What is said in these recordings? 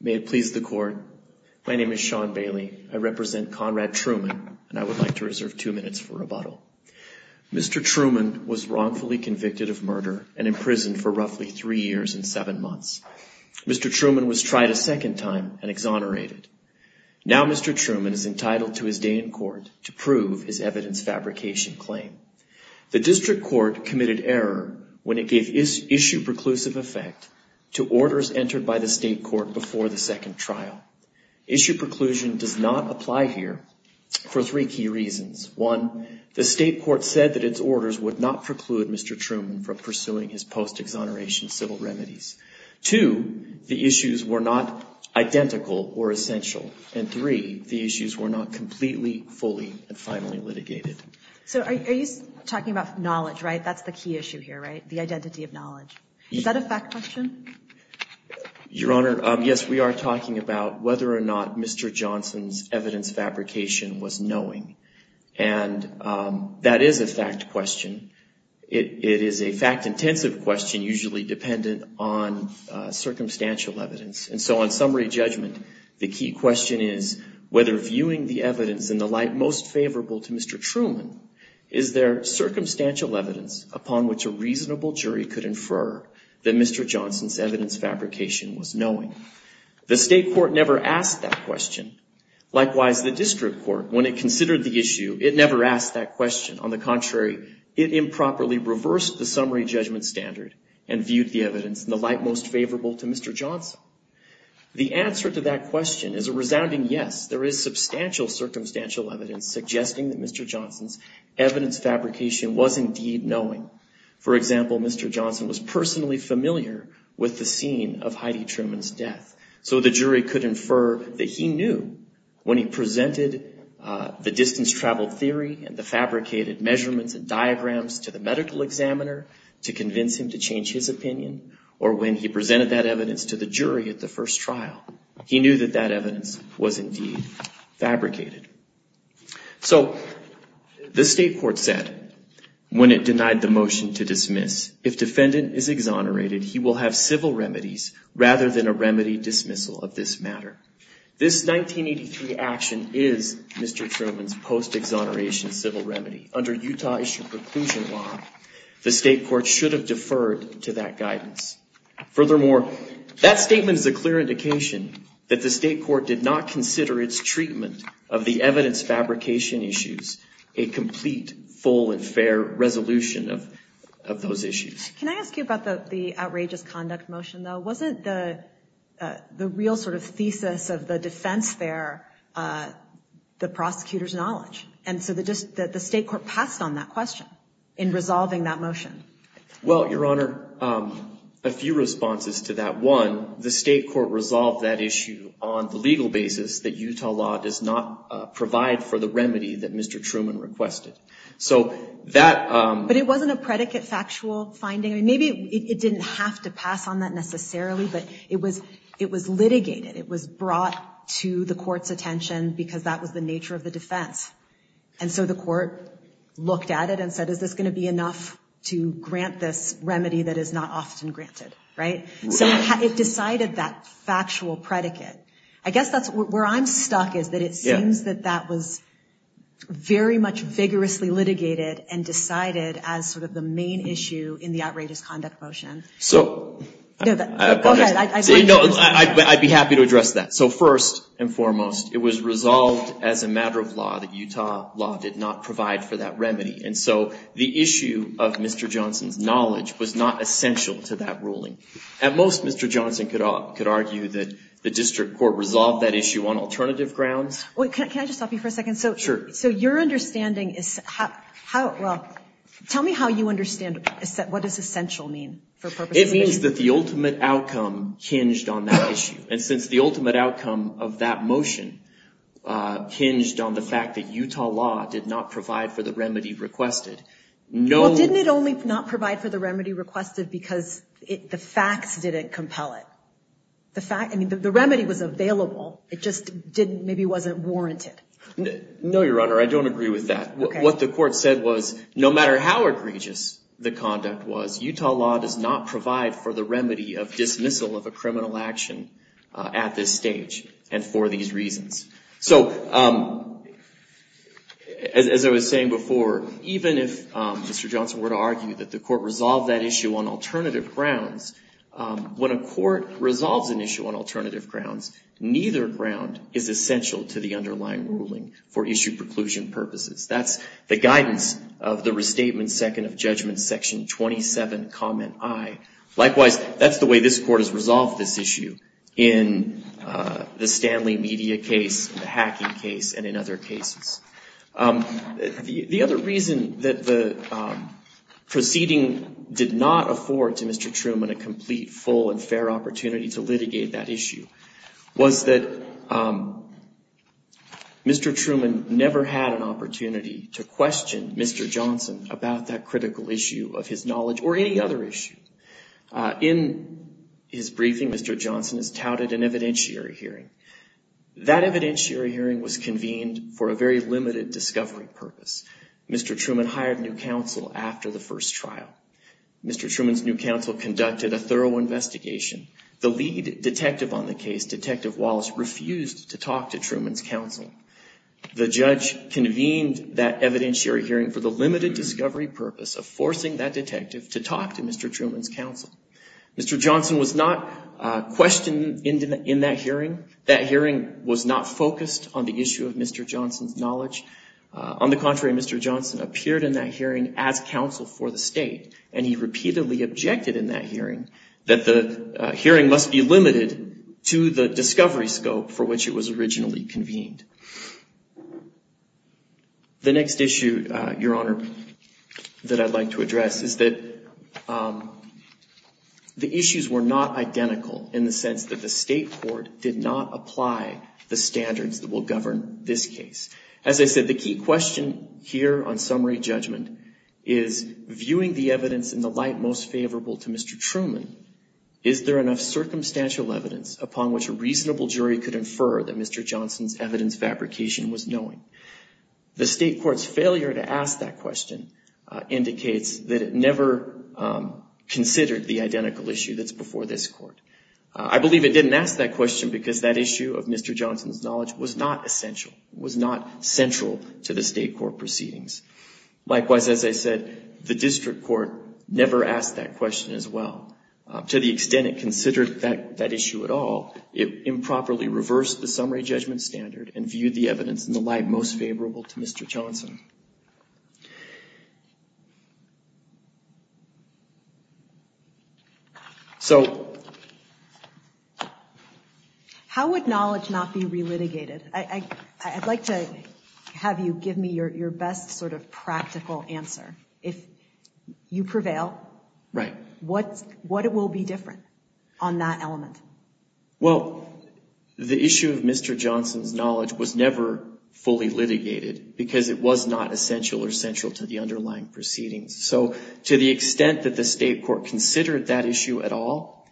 May it please the Court, My name is Sean Bailey. I represent Conrad Truman and I would like to reserve two minutes for rebuttal. Mr. Truman was wrongfully convicted of murder and imprisoned for roughly three years and seven months. Mr. Truman was tried a second time and exonerated. Now Mr. Truman is entitled to his day in court to prove his evidence fabrication claim. The District Court committed error when it gave issue preclusive effect to orders entered by the State Court before the second trial. Issue preclusion does not apply here for three key reasons. One, the State Court said that its orders would not preclude Mr. Truman from pursuing his post-exoneration civil remedies. Two, the issues were not identical or essential. And three, the issues were not completely, fully, and finally litigated. So are you talking about knowledge, right? That's the key issue here, right? The identity of knowledge. Is that a fact question? Your Honor, yes, we are talking about whether or not Mr. Johnson's evidence fabrication was knowing. And that is a fact question. It is a fact-intensive question usually dependent on circumstantial evidence. And so on summary judgment, the key question is whether viewing the evidence in the light most favorable to Mr. Truman, is there circumstantial evidence upon which a reasonable jury could infer that Mr. Johnson's evidence fabrication was knowing? The State Court never asked that question. Likewise, the District Court, when it considered the issue, it never asked that question. On the contrary, it improperly reversed the summary judgment standard and viewed the evidence in the light most favorable to Mr. Johnson. The answer to that question is a resounding yes. There is substantial circumstantial evidence suggesting that Mr. Johnson's evidence fabrication was indeed knowing. For example, Mr. Johnson was personally familiar with the scene of Heidi Truman's death. So the jury could infer that he knew when he presented the distance travel theory and the fabricated measurements and diagrams to the medical examiner to convince him to change his opinion, or when he presented that evidence to the jury at the first trial, he knew that that evidence was indeed fabricated. So the State Court said, when it denied the motion to dismiss, if defendant is exonerated, he will have civil remedies rather than a remedy dismissal of this matter. This 1983 action is Mr. Truman's post-exoneration civil remedy. Under Utah issue preclusion law, the State Court should have deferred to that guidance. Furthermore, that statement is a clear indication that the State Court did not consider its treatment of the evidence fabrication issues a complete, full, and fair resolution of those issues. Can I ask you about the outrageous conduct motion, though? Wasn't the real sort of thesis of the defense there the prosecutor's knowledge? And so the State Court passed on that question in resolving that motion. Well, Your Honor, a few responses to that. One, the State Court resolved that issue on the legal basis that Utah law does not provide for the remedy that Mr. Truman requested. So that... But it wasn't a predicate factual finding. Maybe it didn't have to pass on that necessarily, but it was litigated. It was brought to the court's attention because that was the nature of the defense. And so the court looked at it and said, is this going to be enough to grant this remedy that is not often granted? Right? So it decided that factual predicate. I guess that's where I'm stuck is that it seems that that was very much vigorously litigated and decided as sort of the main issue in the outrageous conduct motion. So... Go ahead. No, I'd be happy to address that. So first and foremost, it was resolved as a matter of law that Utah law did not provide for that remedy. And so the issue of Mr. Johnson's knowledge was not essential to that ruling. At most, Mr. Johnson could argue that the District Court resolved that issue on alternative grounds. Wait, can I just stop you for a second? Sure. So your understanding is... Well, tell me how you understand what does essential mean for purposes of this case? It means that the ultimate outcome hinged on that issue. And since the ultimate outcome of that motion hinged on the fact that Utah law did not provide for the remedy requested, no... Well, didn't it only not provide for the remedy requested because the facts didn't compel it? The fact... I mean, the remedy was available. It just didn't... Maybe it wasn't warranted. No, Your Honor, I don't agree with that. What the court said was, no matter how egregious the conduct was, Utah law does not provide for the remedy of dismissal of a criminal action at this stage and for these reasons. So as I was saying before, even if Mr. Johnson were to argue that the court resolved that issue on alternative grounds, when a court resolves an issue on alternative grounds, neither ground is essential to the underlying ruling for issue preclusion purposes. That's the guidance of the Restatement Second of Judgment, Section 27, Comment I. Likewise, that's the way this court has resolved this issue in the Stanley Media case, the hacking case and in other cases. The other reason that the proceeding did not afford to Mr. Truman a complete, full and fair opportunity to litigate that issue was that Mr. Truman never had an opportunity to In his briefing, Mr. Johnson has touted an evidentiary hearing. That evidentiary hearing was convened for a very limited discovery purpose. Mr. Truman hired new counsel after the first trial. Mr. Truman's new counsel conducted a thorough investigation. The lead detective on the case, Detective Wallace, refused to talk to Truman's counsel. The judge convened that evidentiary hearing for the limited discovery purpose of forcing that Mr. Johnson was not questioned in that hearing. That hearing was not focused on the issue of Mr. Johnson's knowledge. On the contrary, Mr. Johnson appeared in that hearing as counsel for the state, and he repeatedly objected in that hearing that the hearing must be limited to the discovery scope for which it was originally convened. The next issue, Your Honor, that I'd like to address is that the issues were not identical in the sense that the state court did not apply the standards that will govern this case. As I said, the key question here on summary judgment is, viewing the evidence in the light most favorable to Mr. Truman, is there enough circumstantial evidence upon which a reasonable jury could infer that Mr. Johnson's evidence varies from the evidence fabrication was knowing? The state court's failure to ask that question indicates that it never considered the identical issue that's before this court. I believe it didn't ask that question because that issue of Mr. Johnson's knowledge was not essential, was not central to the state court proceedings. Likewise, as I said, the district court never asked that question as well. To the extent it considered that issue at all, it improperly reversed the summary judgment standard and viewed the evidence in the light most favorable to Mr. Johnson. So how would knowledge not be re-litigated? I'd like to have you give me your best sort of practical answer. If you prevail, what will be different on that element? Well, the issue of Mr. Johnson's knowledge was never fully litigated because it was not essential or central to the underlying proceedings. So to the extent that the state court considered that issue at all,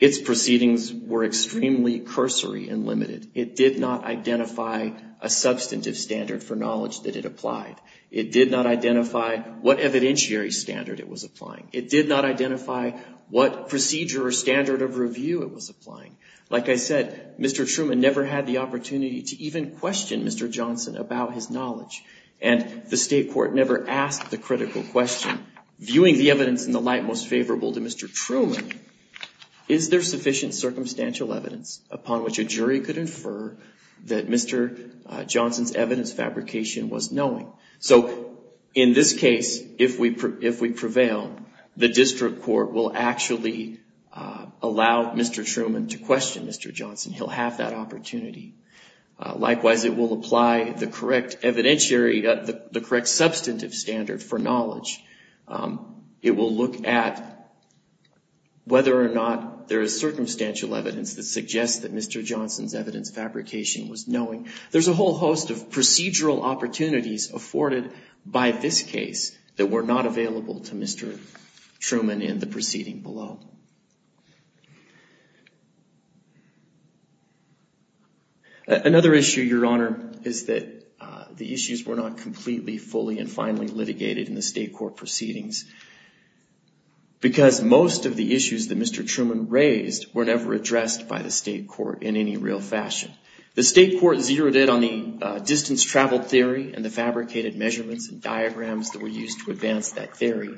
its proceedings were extremely cursory and limited. It did not identify a substantive standard for knowledge that it applied. It did not identify what evidentiary standard it was applying. It did not identify what procedure or standard of review it was applying. Like I said, Mr. Truman never had the opportunity to even question Mr. Johnson about his knowledge. And the state court never asked the critical question, viewing the evidence in the light most favorable to Mr. Truman, is there sufficient circumstantial evidence upon which a jury could infer that Mr. Johnson's evidence fabrication was knowing? So in this case, if we prevail, the district court will actually allow Mr. Truman to question Mr. Johnson. He'll have that opportunity. Likewise, it will apply the correct substantive standard for knowledge. It will look at whether or not there is circumstantial evidence that suggests that Mr. Johnson's evidence fabrication was knowing. There's a whole host of procedural opportunities afforded by this case that were not available to Mr. Truman in the proceeding below. Another issue, Your Honor, is that the issues were not completely, fully, and finally litigated in the state court proceedings because most of the issues that Mr. Truman raised were never addressed by the state court in any real fashion. The state court zeroed in a little bit on the distance travel theory and the fabricated measurements and diagrams that were used to advance that theory.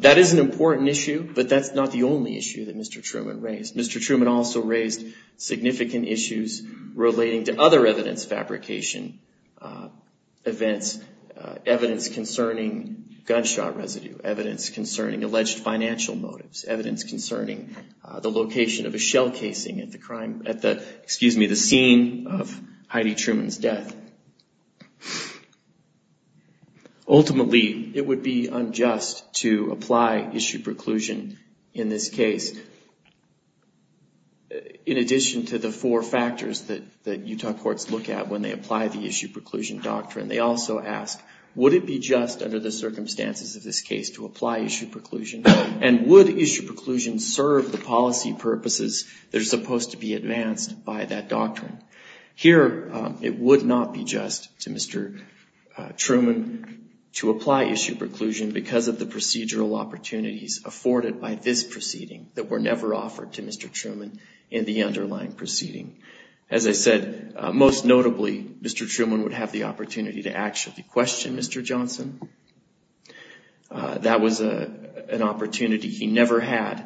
That is an important issue, but that's not the only issue that Mr. Truman raised. Mr. Truman also raised significant issues relating to other evidence fabrication events, evidence concerning gunshot residue, evidence concerning alleged financial motives, evidence concerning the location of a shell casing at the crime, at the scene of Heidi Truman's death. Ultimately, it would be unjust to apply issue preclusion in this case. In addition to the four factors that Utah courts look at when they apply the issue preclusion doctrine, they also ask, would it be just under the circumstances of this case to apply issue preclusion, and would issue preclusion serve the policy purposes that are supposed to be advanced by that doctrine? Here, it would not be just to Mr. Truman to apply issue preclusion because of the procedural opportunities afforded by this proceeding that were never offered to Mr. Truman in the underlying proceeding. As I said, most notably, Mr. Truman would have the opportunity to actually question Mr. Johnson. That was an opportunity he never had,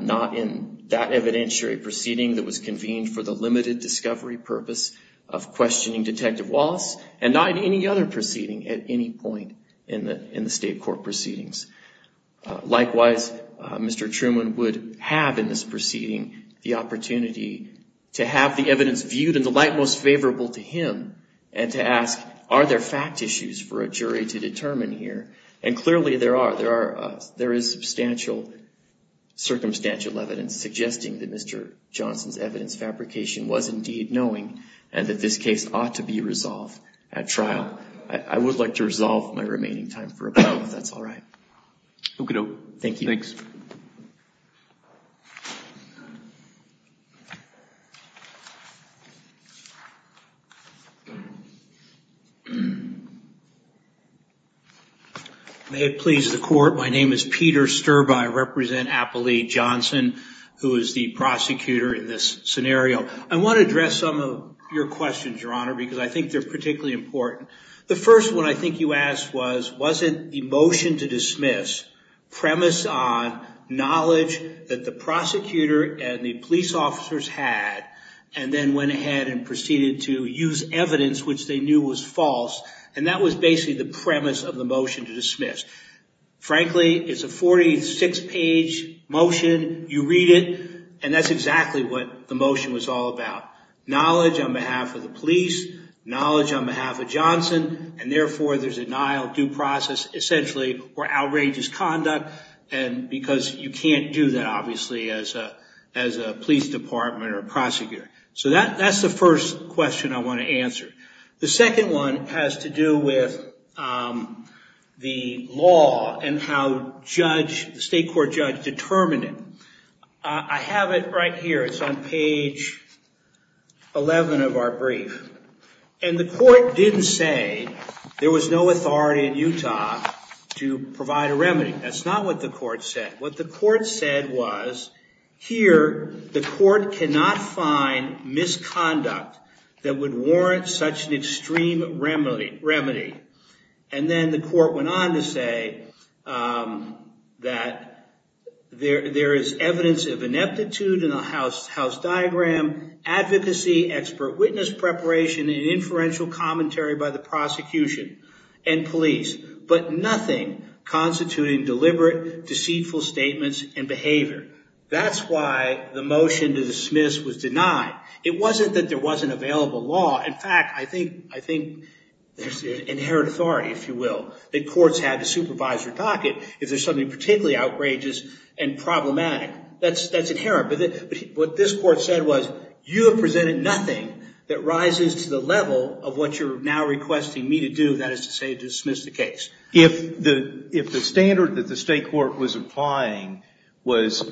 not in that evidentiary proceeding that was convened for the limited discovery purpose of questioning Detective Wallace, and not in any other proceeding at any point in the state court proceedings. Likewise, Mr. Truman would have in this proceeding the opportunity to have the evidence viewed in the light most favorable to him, and to ask, are there fact issues for a jury to determine here? Clearly, there are. There is substantial circumstantial evidence suggesting that Mr. Johnson's evidence fabrication was indeed knowing, and that this case ought to be resolved at trial. I would like to resolve my remaining time for a moment, if that's all right. May it please the court, my name is Peter Sturbe. I represent Appalachian Johnson, who is the prosecutor in this scenario. I want to address some of your questions, Your Honor, because I think they're particularly important. The first one I think you asked was, wasn't the motion to dismiss premise on knowledge that the prosecutor and the police officers had, and then went ahead and proceeded to use evidence which they knew was false, and that was basically the premise of the motion to dismiss. Frankly, it's a 46-page motion, you read it, and that's exactly what the motion was all about. Knowledge on behalf of the police, knowledge on behalf of Johnson, and therefore there's denial, due process, essentially, or outrageous conduct, because you can't do that, obviously, as a police department or prosecutor. So that's the first question I want to answer. The second one has to do with the law and how the state court judge determined it. I have it right here, it's on page 11 of our brief, and the court didn't say there was no authority in Utah to provide a remedy. That's not what the court said. What the court said was, here, the court cannot find misconduct that would warrant such an extreme remedy. And then the court went on to say that there is evidence of ineptitude in the house diagram, advocacy, expert witness preparation, and inferential commentary by the prosecution and police, but nothing constituting deliberate, deceitful statements and behavior. That's why the motion to dismiss was denied. It wasn't that there wasn't available law, in fact, I think there's inherent authority, if you like. That's inherent. But what this court said was, you have presented nothing that rises to the level of what you're now requesting me to do, that is to say, dismiss the case. If the standard that the state court was applying was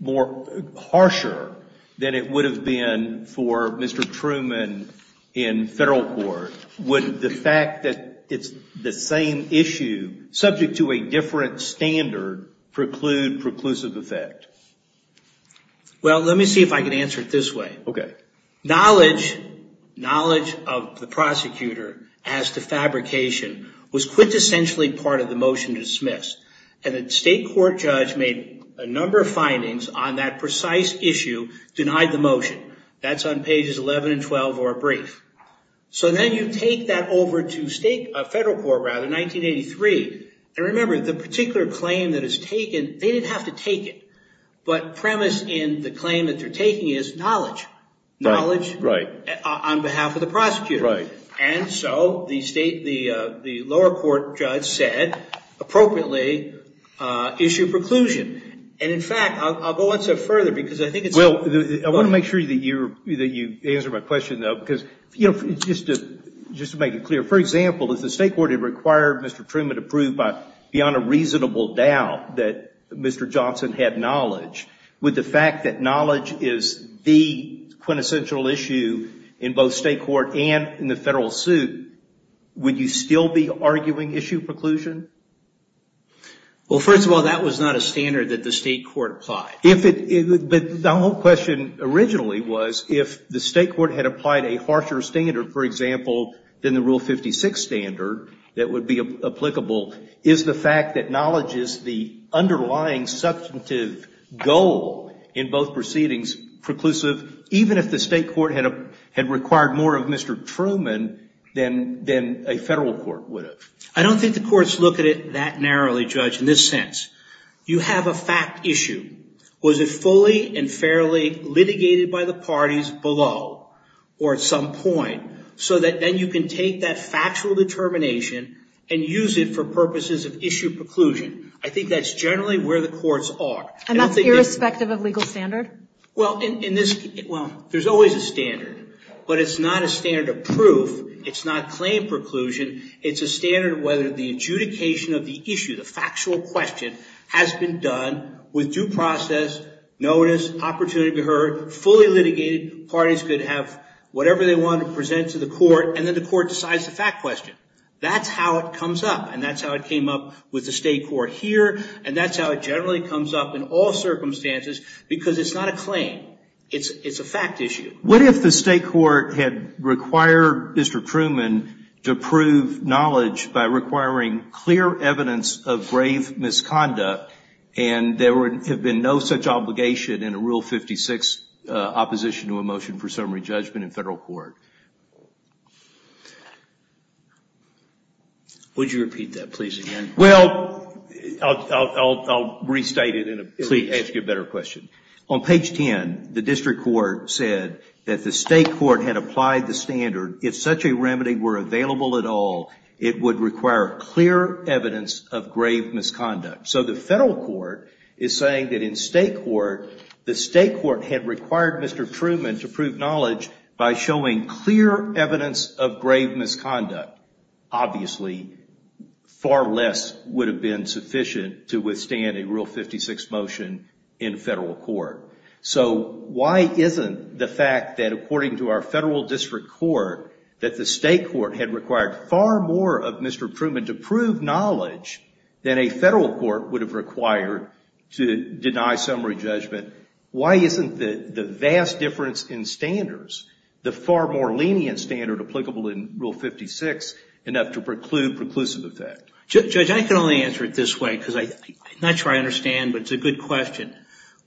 more harsher than it would have been for Mr. Truman in federal court, would the fact that it's the same issue, subject to a different standard, preclude preclusive effect? Well, let me see if I can answer it this way. Knowledge of the prosecutor as to fabrication was quintessentially part of the motion to dismiss. And the state court judge made a number of findings on that precise issue, denied the motion. That's on pages 11 and 12 of our brief. So then you take that over to federal court in 1983, and remember, the particular claim that is taken, they didn't have to take it. But premise in the claim that they're taking is knowledge. Knowledge on behalf of the prosecutor. And so, the lower court judge said, appropriately, issue preclusion. And in fact, I'll go one step further, because I think it's... Well, I want to make sure that you answer my question, though, because just to make it clear. For example, if the state court had required Mr. Truman to prove beyond a reasonable doubt that Mr. Johnson had knowledge, with the fact that knowledge is the quintessential issue in both state court and in the federal suit, would you still be arguing issue preclusion? Well, first of all, that was not a standard that the state court applied. But the whole question originally was, if the state court had applied a harsher standard, for example, than the Rule 56 standard that would be applicable, is the fact that knowledge is the underlying substantive goal in both proceedings preclusive, even if the state court had required more of Mr. Truman than a federal court would have? I don't think the courts look at it that narrowly, Judge, in this sense. You have a fact issue. Was it fully and fairly litigated by the parties below, or at some point, so that then you can take that factual determination and use it for purposes of issue preclusion? I think that's generally where the courts are. And that's irrespective of legal standard? Well, in this... Well, there's always a standard. But it's not a standard of proof. It's not claim preclusion. It's a standard of whether the adjudication of the issue, the factual question, has been done with due process, notice, opportunity to be heard, fully litigated. Parties could have whatever they wanted to present to the court, and then the court decides the fact question. That's how it comes up, and that's how it came up with the state court here, and that's how it generally comes up in all circumstances, because it's not a claim. It's a fact issue. What if the state court had required Mr. Truman to prove knowledge by requiring clear evidence of grave misconduct, and there would have been no such obligation in a Rule 56 opposition to a motion for summary judgment in Federal court? Would you repeat that, please, again? Well, I'll restate it and ask you a better question. On page 10, the district court said that the state court had applied the standard. If such a remedy were available at all, it would require clear evidence of grave misconduct. So the Federal court is saying that in state court, the state court had required Mr. Truman to prove knowledge by showing clear evidence of grave misconduct. Obviously, far less would have been sufficient to withstand a Rule 56 motion in Federal court. So why isn't the fact that, according to our Federal district court, that the state court had required far more of Mr. Truman to prove knowledge than a Federal court would have required to deny summary judgment, why isn't the vast difference in standards, the far more lenient standard applicable in Rule 56, enough to preclude preclusive effect? Judge, I can only answer it this way, because I'm not sure I understand, but it's a good question.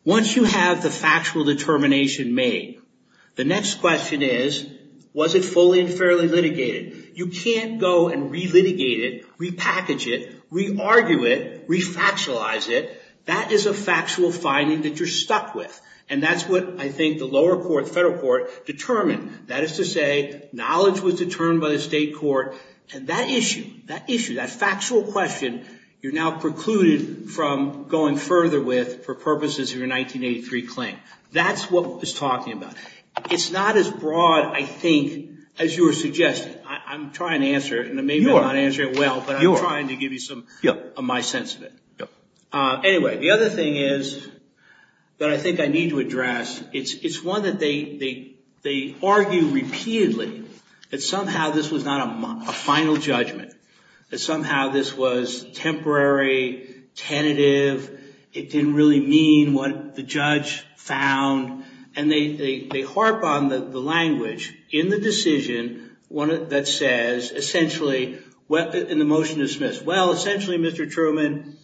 Once you have the factual determination made, the next question is, was it fully and completely true? You can't go and re-litigate it, re-package it, re-argue it, re-factualize it. That is a factual finding that you're stuck with. And that's what I think the lower court, the Federal court, determined. That is to say, knowledge was determined by the state court, and that issue, that issue, that factual question, you're now precluded from going further with for purposes of your 1983 claim. That's what it's talking about. It's not as broad, I think, as you were suggesting. I'm trying to answer it, and maybe I'm not answering it well, but I'm trying to give you some of my sense of it. Anyway, the other thing is, that I think I need to address, it's one that they argue repeatedly, that somehow this was not a final judgment. That somehow this was temporary, tentative, it was temporary. They harp on the language in the decision that says, essentially, in the motion dismissed, well, essentially, Mr. Truman,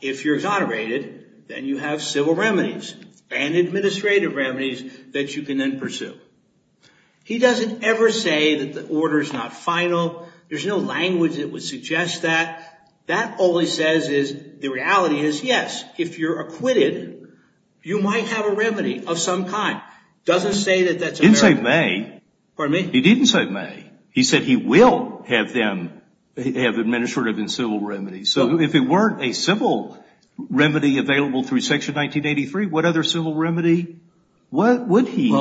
if you're exonerated, then you have civil remedies and administrative remedies that you can then pursue. He doesn't ever say that the order's not final. There's no language that would suggest that. That only says is, the reality is, yes, if you're acquitted, you might have a remedy of some kind. Doesn't say that that's a... He didn't say may. Pardon me? He didn't say may. He said he will have them, have administrative and civil remedies. So if it weren't a civil remedy available through Section 1983, what other civil remedy would he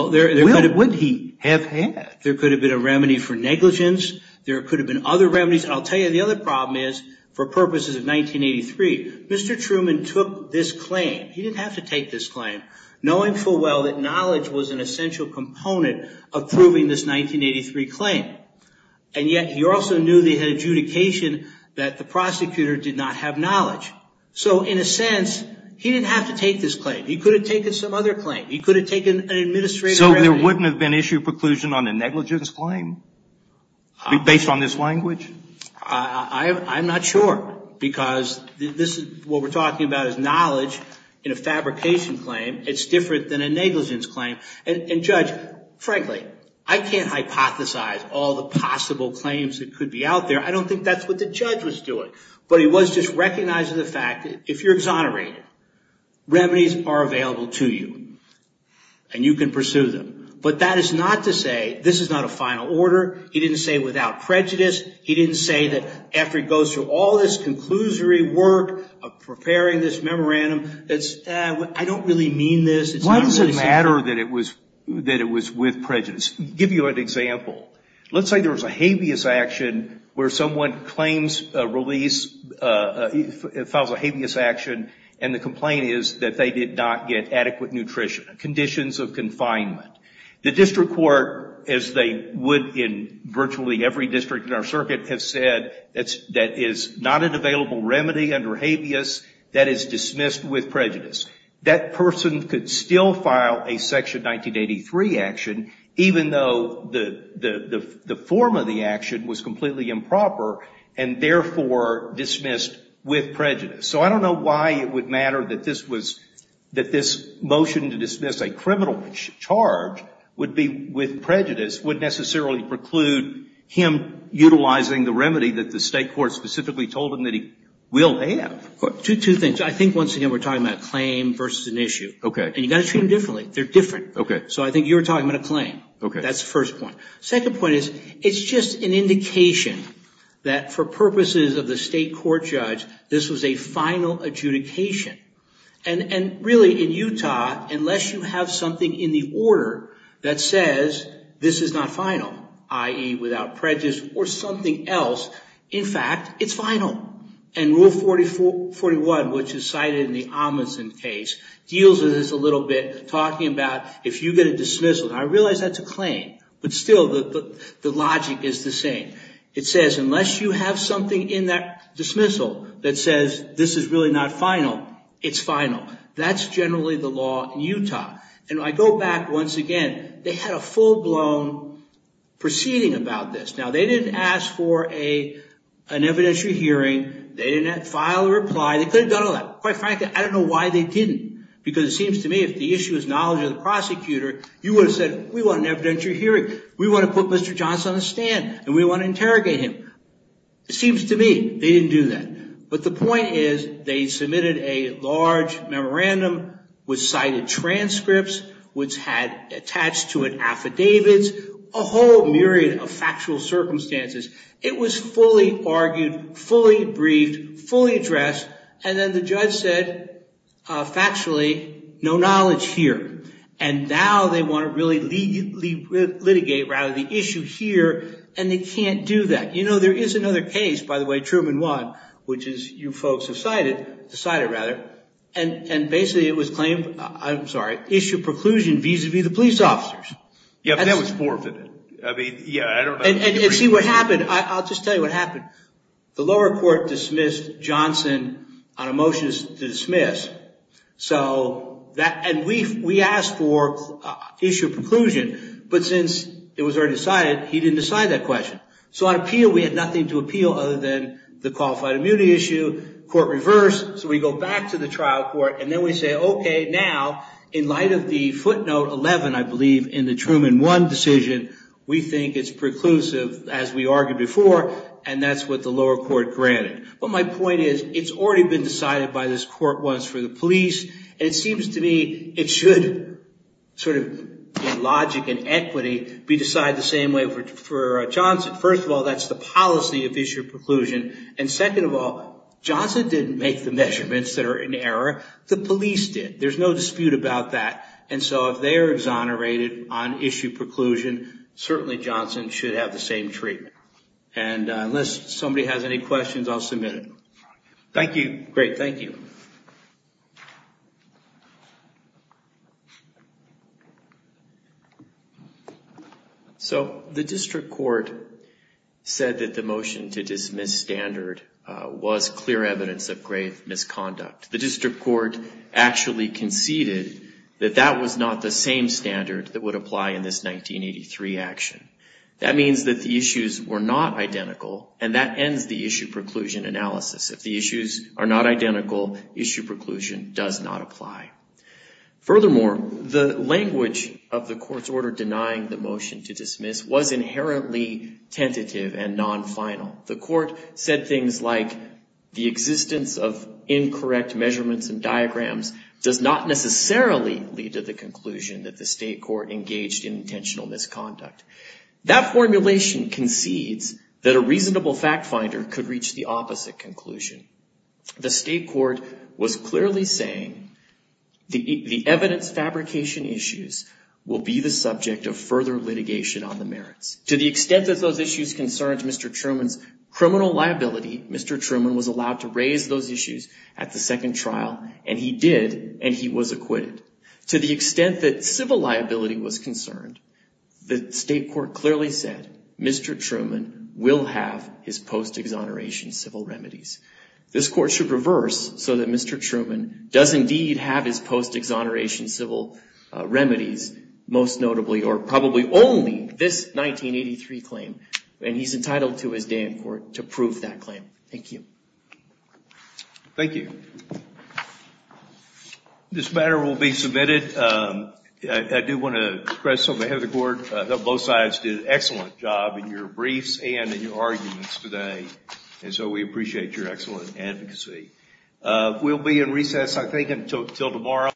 have had? There could have been a remedy for negligence. There could have been other remedies. I'll say for purposes of 1983, Mr. Truman took this claim. He didn't have to take this claim, knowing full well that knowledge was an essential component of proving this 1983 claim. And yet he also knew that he had adjudication that the prosecutor did not have knowledge. So in a sense, he didn't have to take this claim. He could have taken some other claim. He could have taken an administrative remedy. So there wouldn't have been issue of preclusion on a negligence claim, based on this language? I'm not sure. Because what we're talking about is knowledge in a fabrication claim. It's different than a negligence claim. And Judge, frankly, I can't hypothesize all the possible claims that could be out there. I don't think that's what the judge was doing. But he was just recognizing the fact that if you're exonerated, remedies are available to you. And you can pursue them. But that is not to say this is not a final order. He didn't say without prejudice. He didn't say that after he goes through all this conclusory work of preparing this memorandum, that's, I don't really mean this. Why does it matter that it was with prejudice? I'll give you an example. Let's say there was a habeas action where someone claims a release, files a habeas action, and the complaint is that they did not get adequate nutrition, conditions of confinement. The district court, as they would in virtually every district in our circuit, has said that is not an available remedy under habeas, that is dismissed with prejudice. That person could still file a Section 1983 action, even though the form of the action was completely improper, and therefore dismissed with prejudice. So I don't know why it would matter that this was, that this motion to dismiss a criminal charge would be with prejudice would necessarily preclude him utilizing the remedy that the state court specifically told him that he will have. Two things. I think, once again, we're talking about a claim versus an issue. And you've got to treat them differently. They're different. So I think you're talking about a claim. That's the first point. Second point is, it's just an indication that for purposes of the state court judge, this was a final adjudication. And really, in Utah, unless you have something in the order that says this is not final, i.e. without prejudice or something else, in fact, it's final. And Rule 4041, which is cited in the Amundsen case, deals with this a little bit, talking about if you get a dismissal. And I realize that's a claim. But still, the logic is the same. It says, unless you have something in that dismissal that says this is really not final, it's final. That's generally the law in Utah. And I go back, once again, they had a full-blown proceeding about this. Now, they didn't ask for an evidentiary hearing. They didn't file a reply. They could have done all that. Quite simply, it seems to me, if the issue is knowledge of the prosecutor, you would have said, we want an evidentiary hearing. We want to put Mr. Johnson on the stand. And we want to interrogate him. It seems to me they didn't do that. But the point is, they submitted a large memorandum with cited transcripts, which had attached to it affidavits, a whole myriad of factual circumstances. It was fully argued, fully briefed, fully addressed. And then the judge said, factually, no knowledge here. And now they want to really litigate, rather, the issue here. And they can't do that. You know, there is another case, by the way, Truman won, which is, you folks have decided. And basically, it was claimed, I'm sorry, issue of preclusion vis-a-vis the police officers. Yeah, but that was forfeited. And see, what happened, I'll just tell you what happened. The lower court dismissed Johnson on a motion to dismiss. And we asked for issue of preclusion. But since it was already decided, he didn't decide that question. So on appeal, we had nothing to appeal other than the qualified immunity issue. Court reversed. So we go back to the trial court. And then we say, OK, now, in light of the footnote 11, I believe, in the Truman won decision, we think it's preclusive, as we argued before. And that's what the lower court granted. But my point is, it's already been decided by this court once for the police. And it seems to me it should, sort of, in logic and equity, be decided the same way for Johnson. First of all, that's the policy of issue of preclusion. And second of all, Johnson didn't make the measurements that are in error. The police did. There's no dispute about that. And so if they're exonerated on issue of preclusion, certainly Johnson should have the same treatment. And unless somebody has any questions, I'll submit it. Thank you. Great, thank you. So, the district court said that the motion to dismiss standard was clear evidence of grave misconduct. The district court actually conceded that that was not the same standard that would apply in this 1983 action. That means that the issues were not identical. And that ends the issue preclusion analysis. If the issues are not identical, issue preclusion does not apply. Furthermore, the language of the court's order denying the motion to dismiss was inherently tentative and non-final. The court said things like, the existence of incorrect measurements and diagrams does not necessarily lead to the conclusion that the state court engaged in intentional misconduct. That formulation concedes that a reasonable fact finder could reach the opposite conclusion. The state court was clearly saying the evidence fabrication issues will be the subject of further litigation on the merits. To the extent that those issues concerned Mr. Truman's criminal liability, Mr. Truman was allowed to raise those issues at the second trial and he did and he was acquitted. To the extent that civil liability was concerned, the state court clearly said Mr. Truman will have his post-exoneration civil remedies. This court should reverse so that Mr. Truman does indeed have his post-exoneration civil remedies, most notably or probably only this 1983 claim. And he's entitled to his claim. Thank you. Thank you. This matter will be submitted. I do want to express something ahead of the court. Both sides did an excellent job in your briefs and in your arguments today. And so we appreciate your excellent advocacy. We'll be in recess, I think, until tomorrow.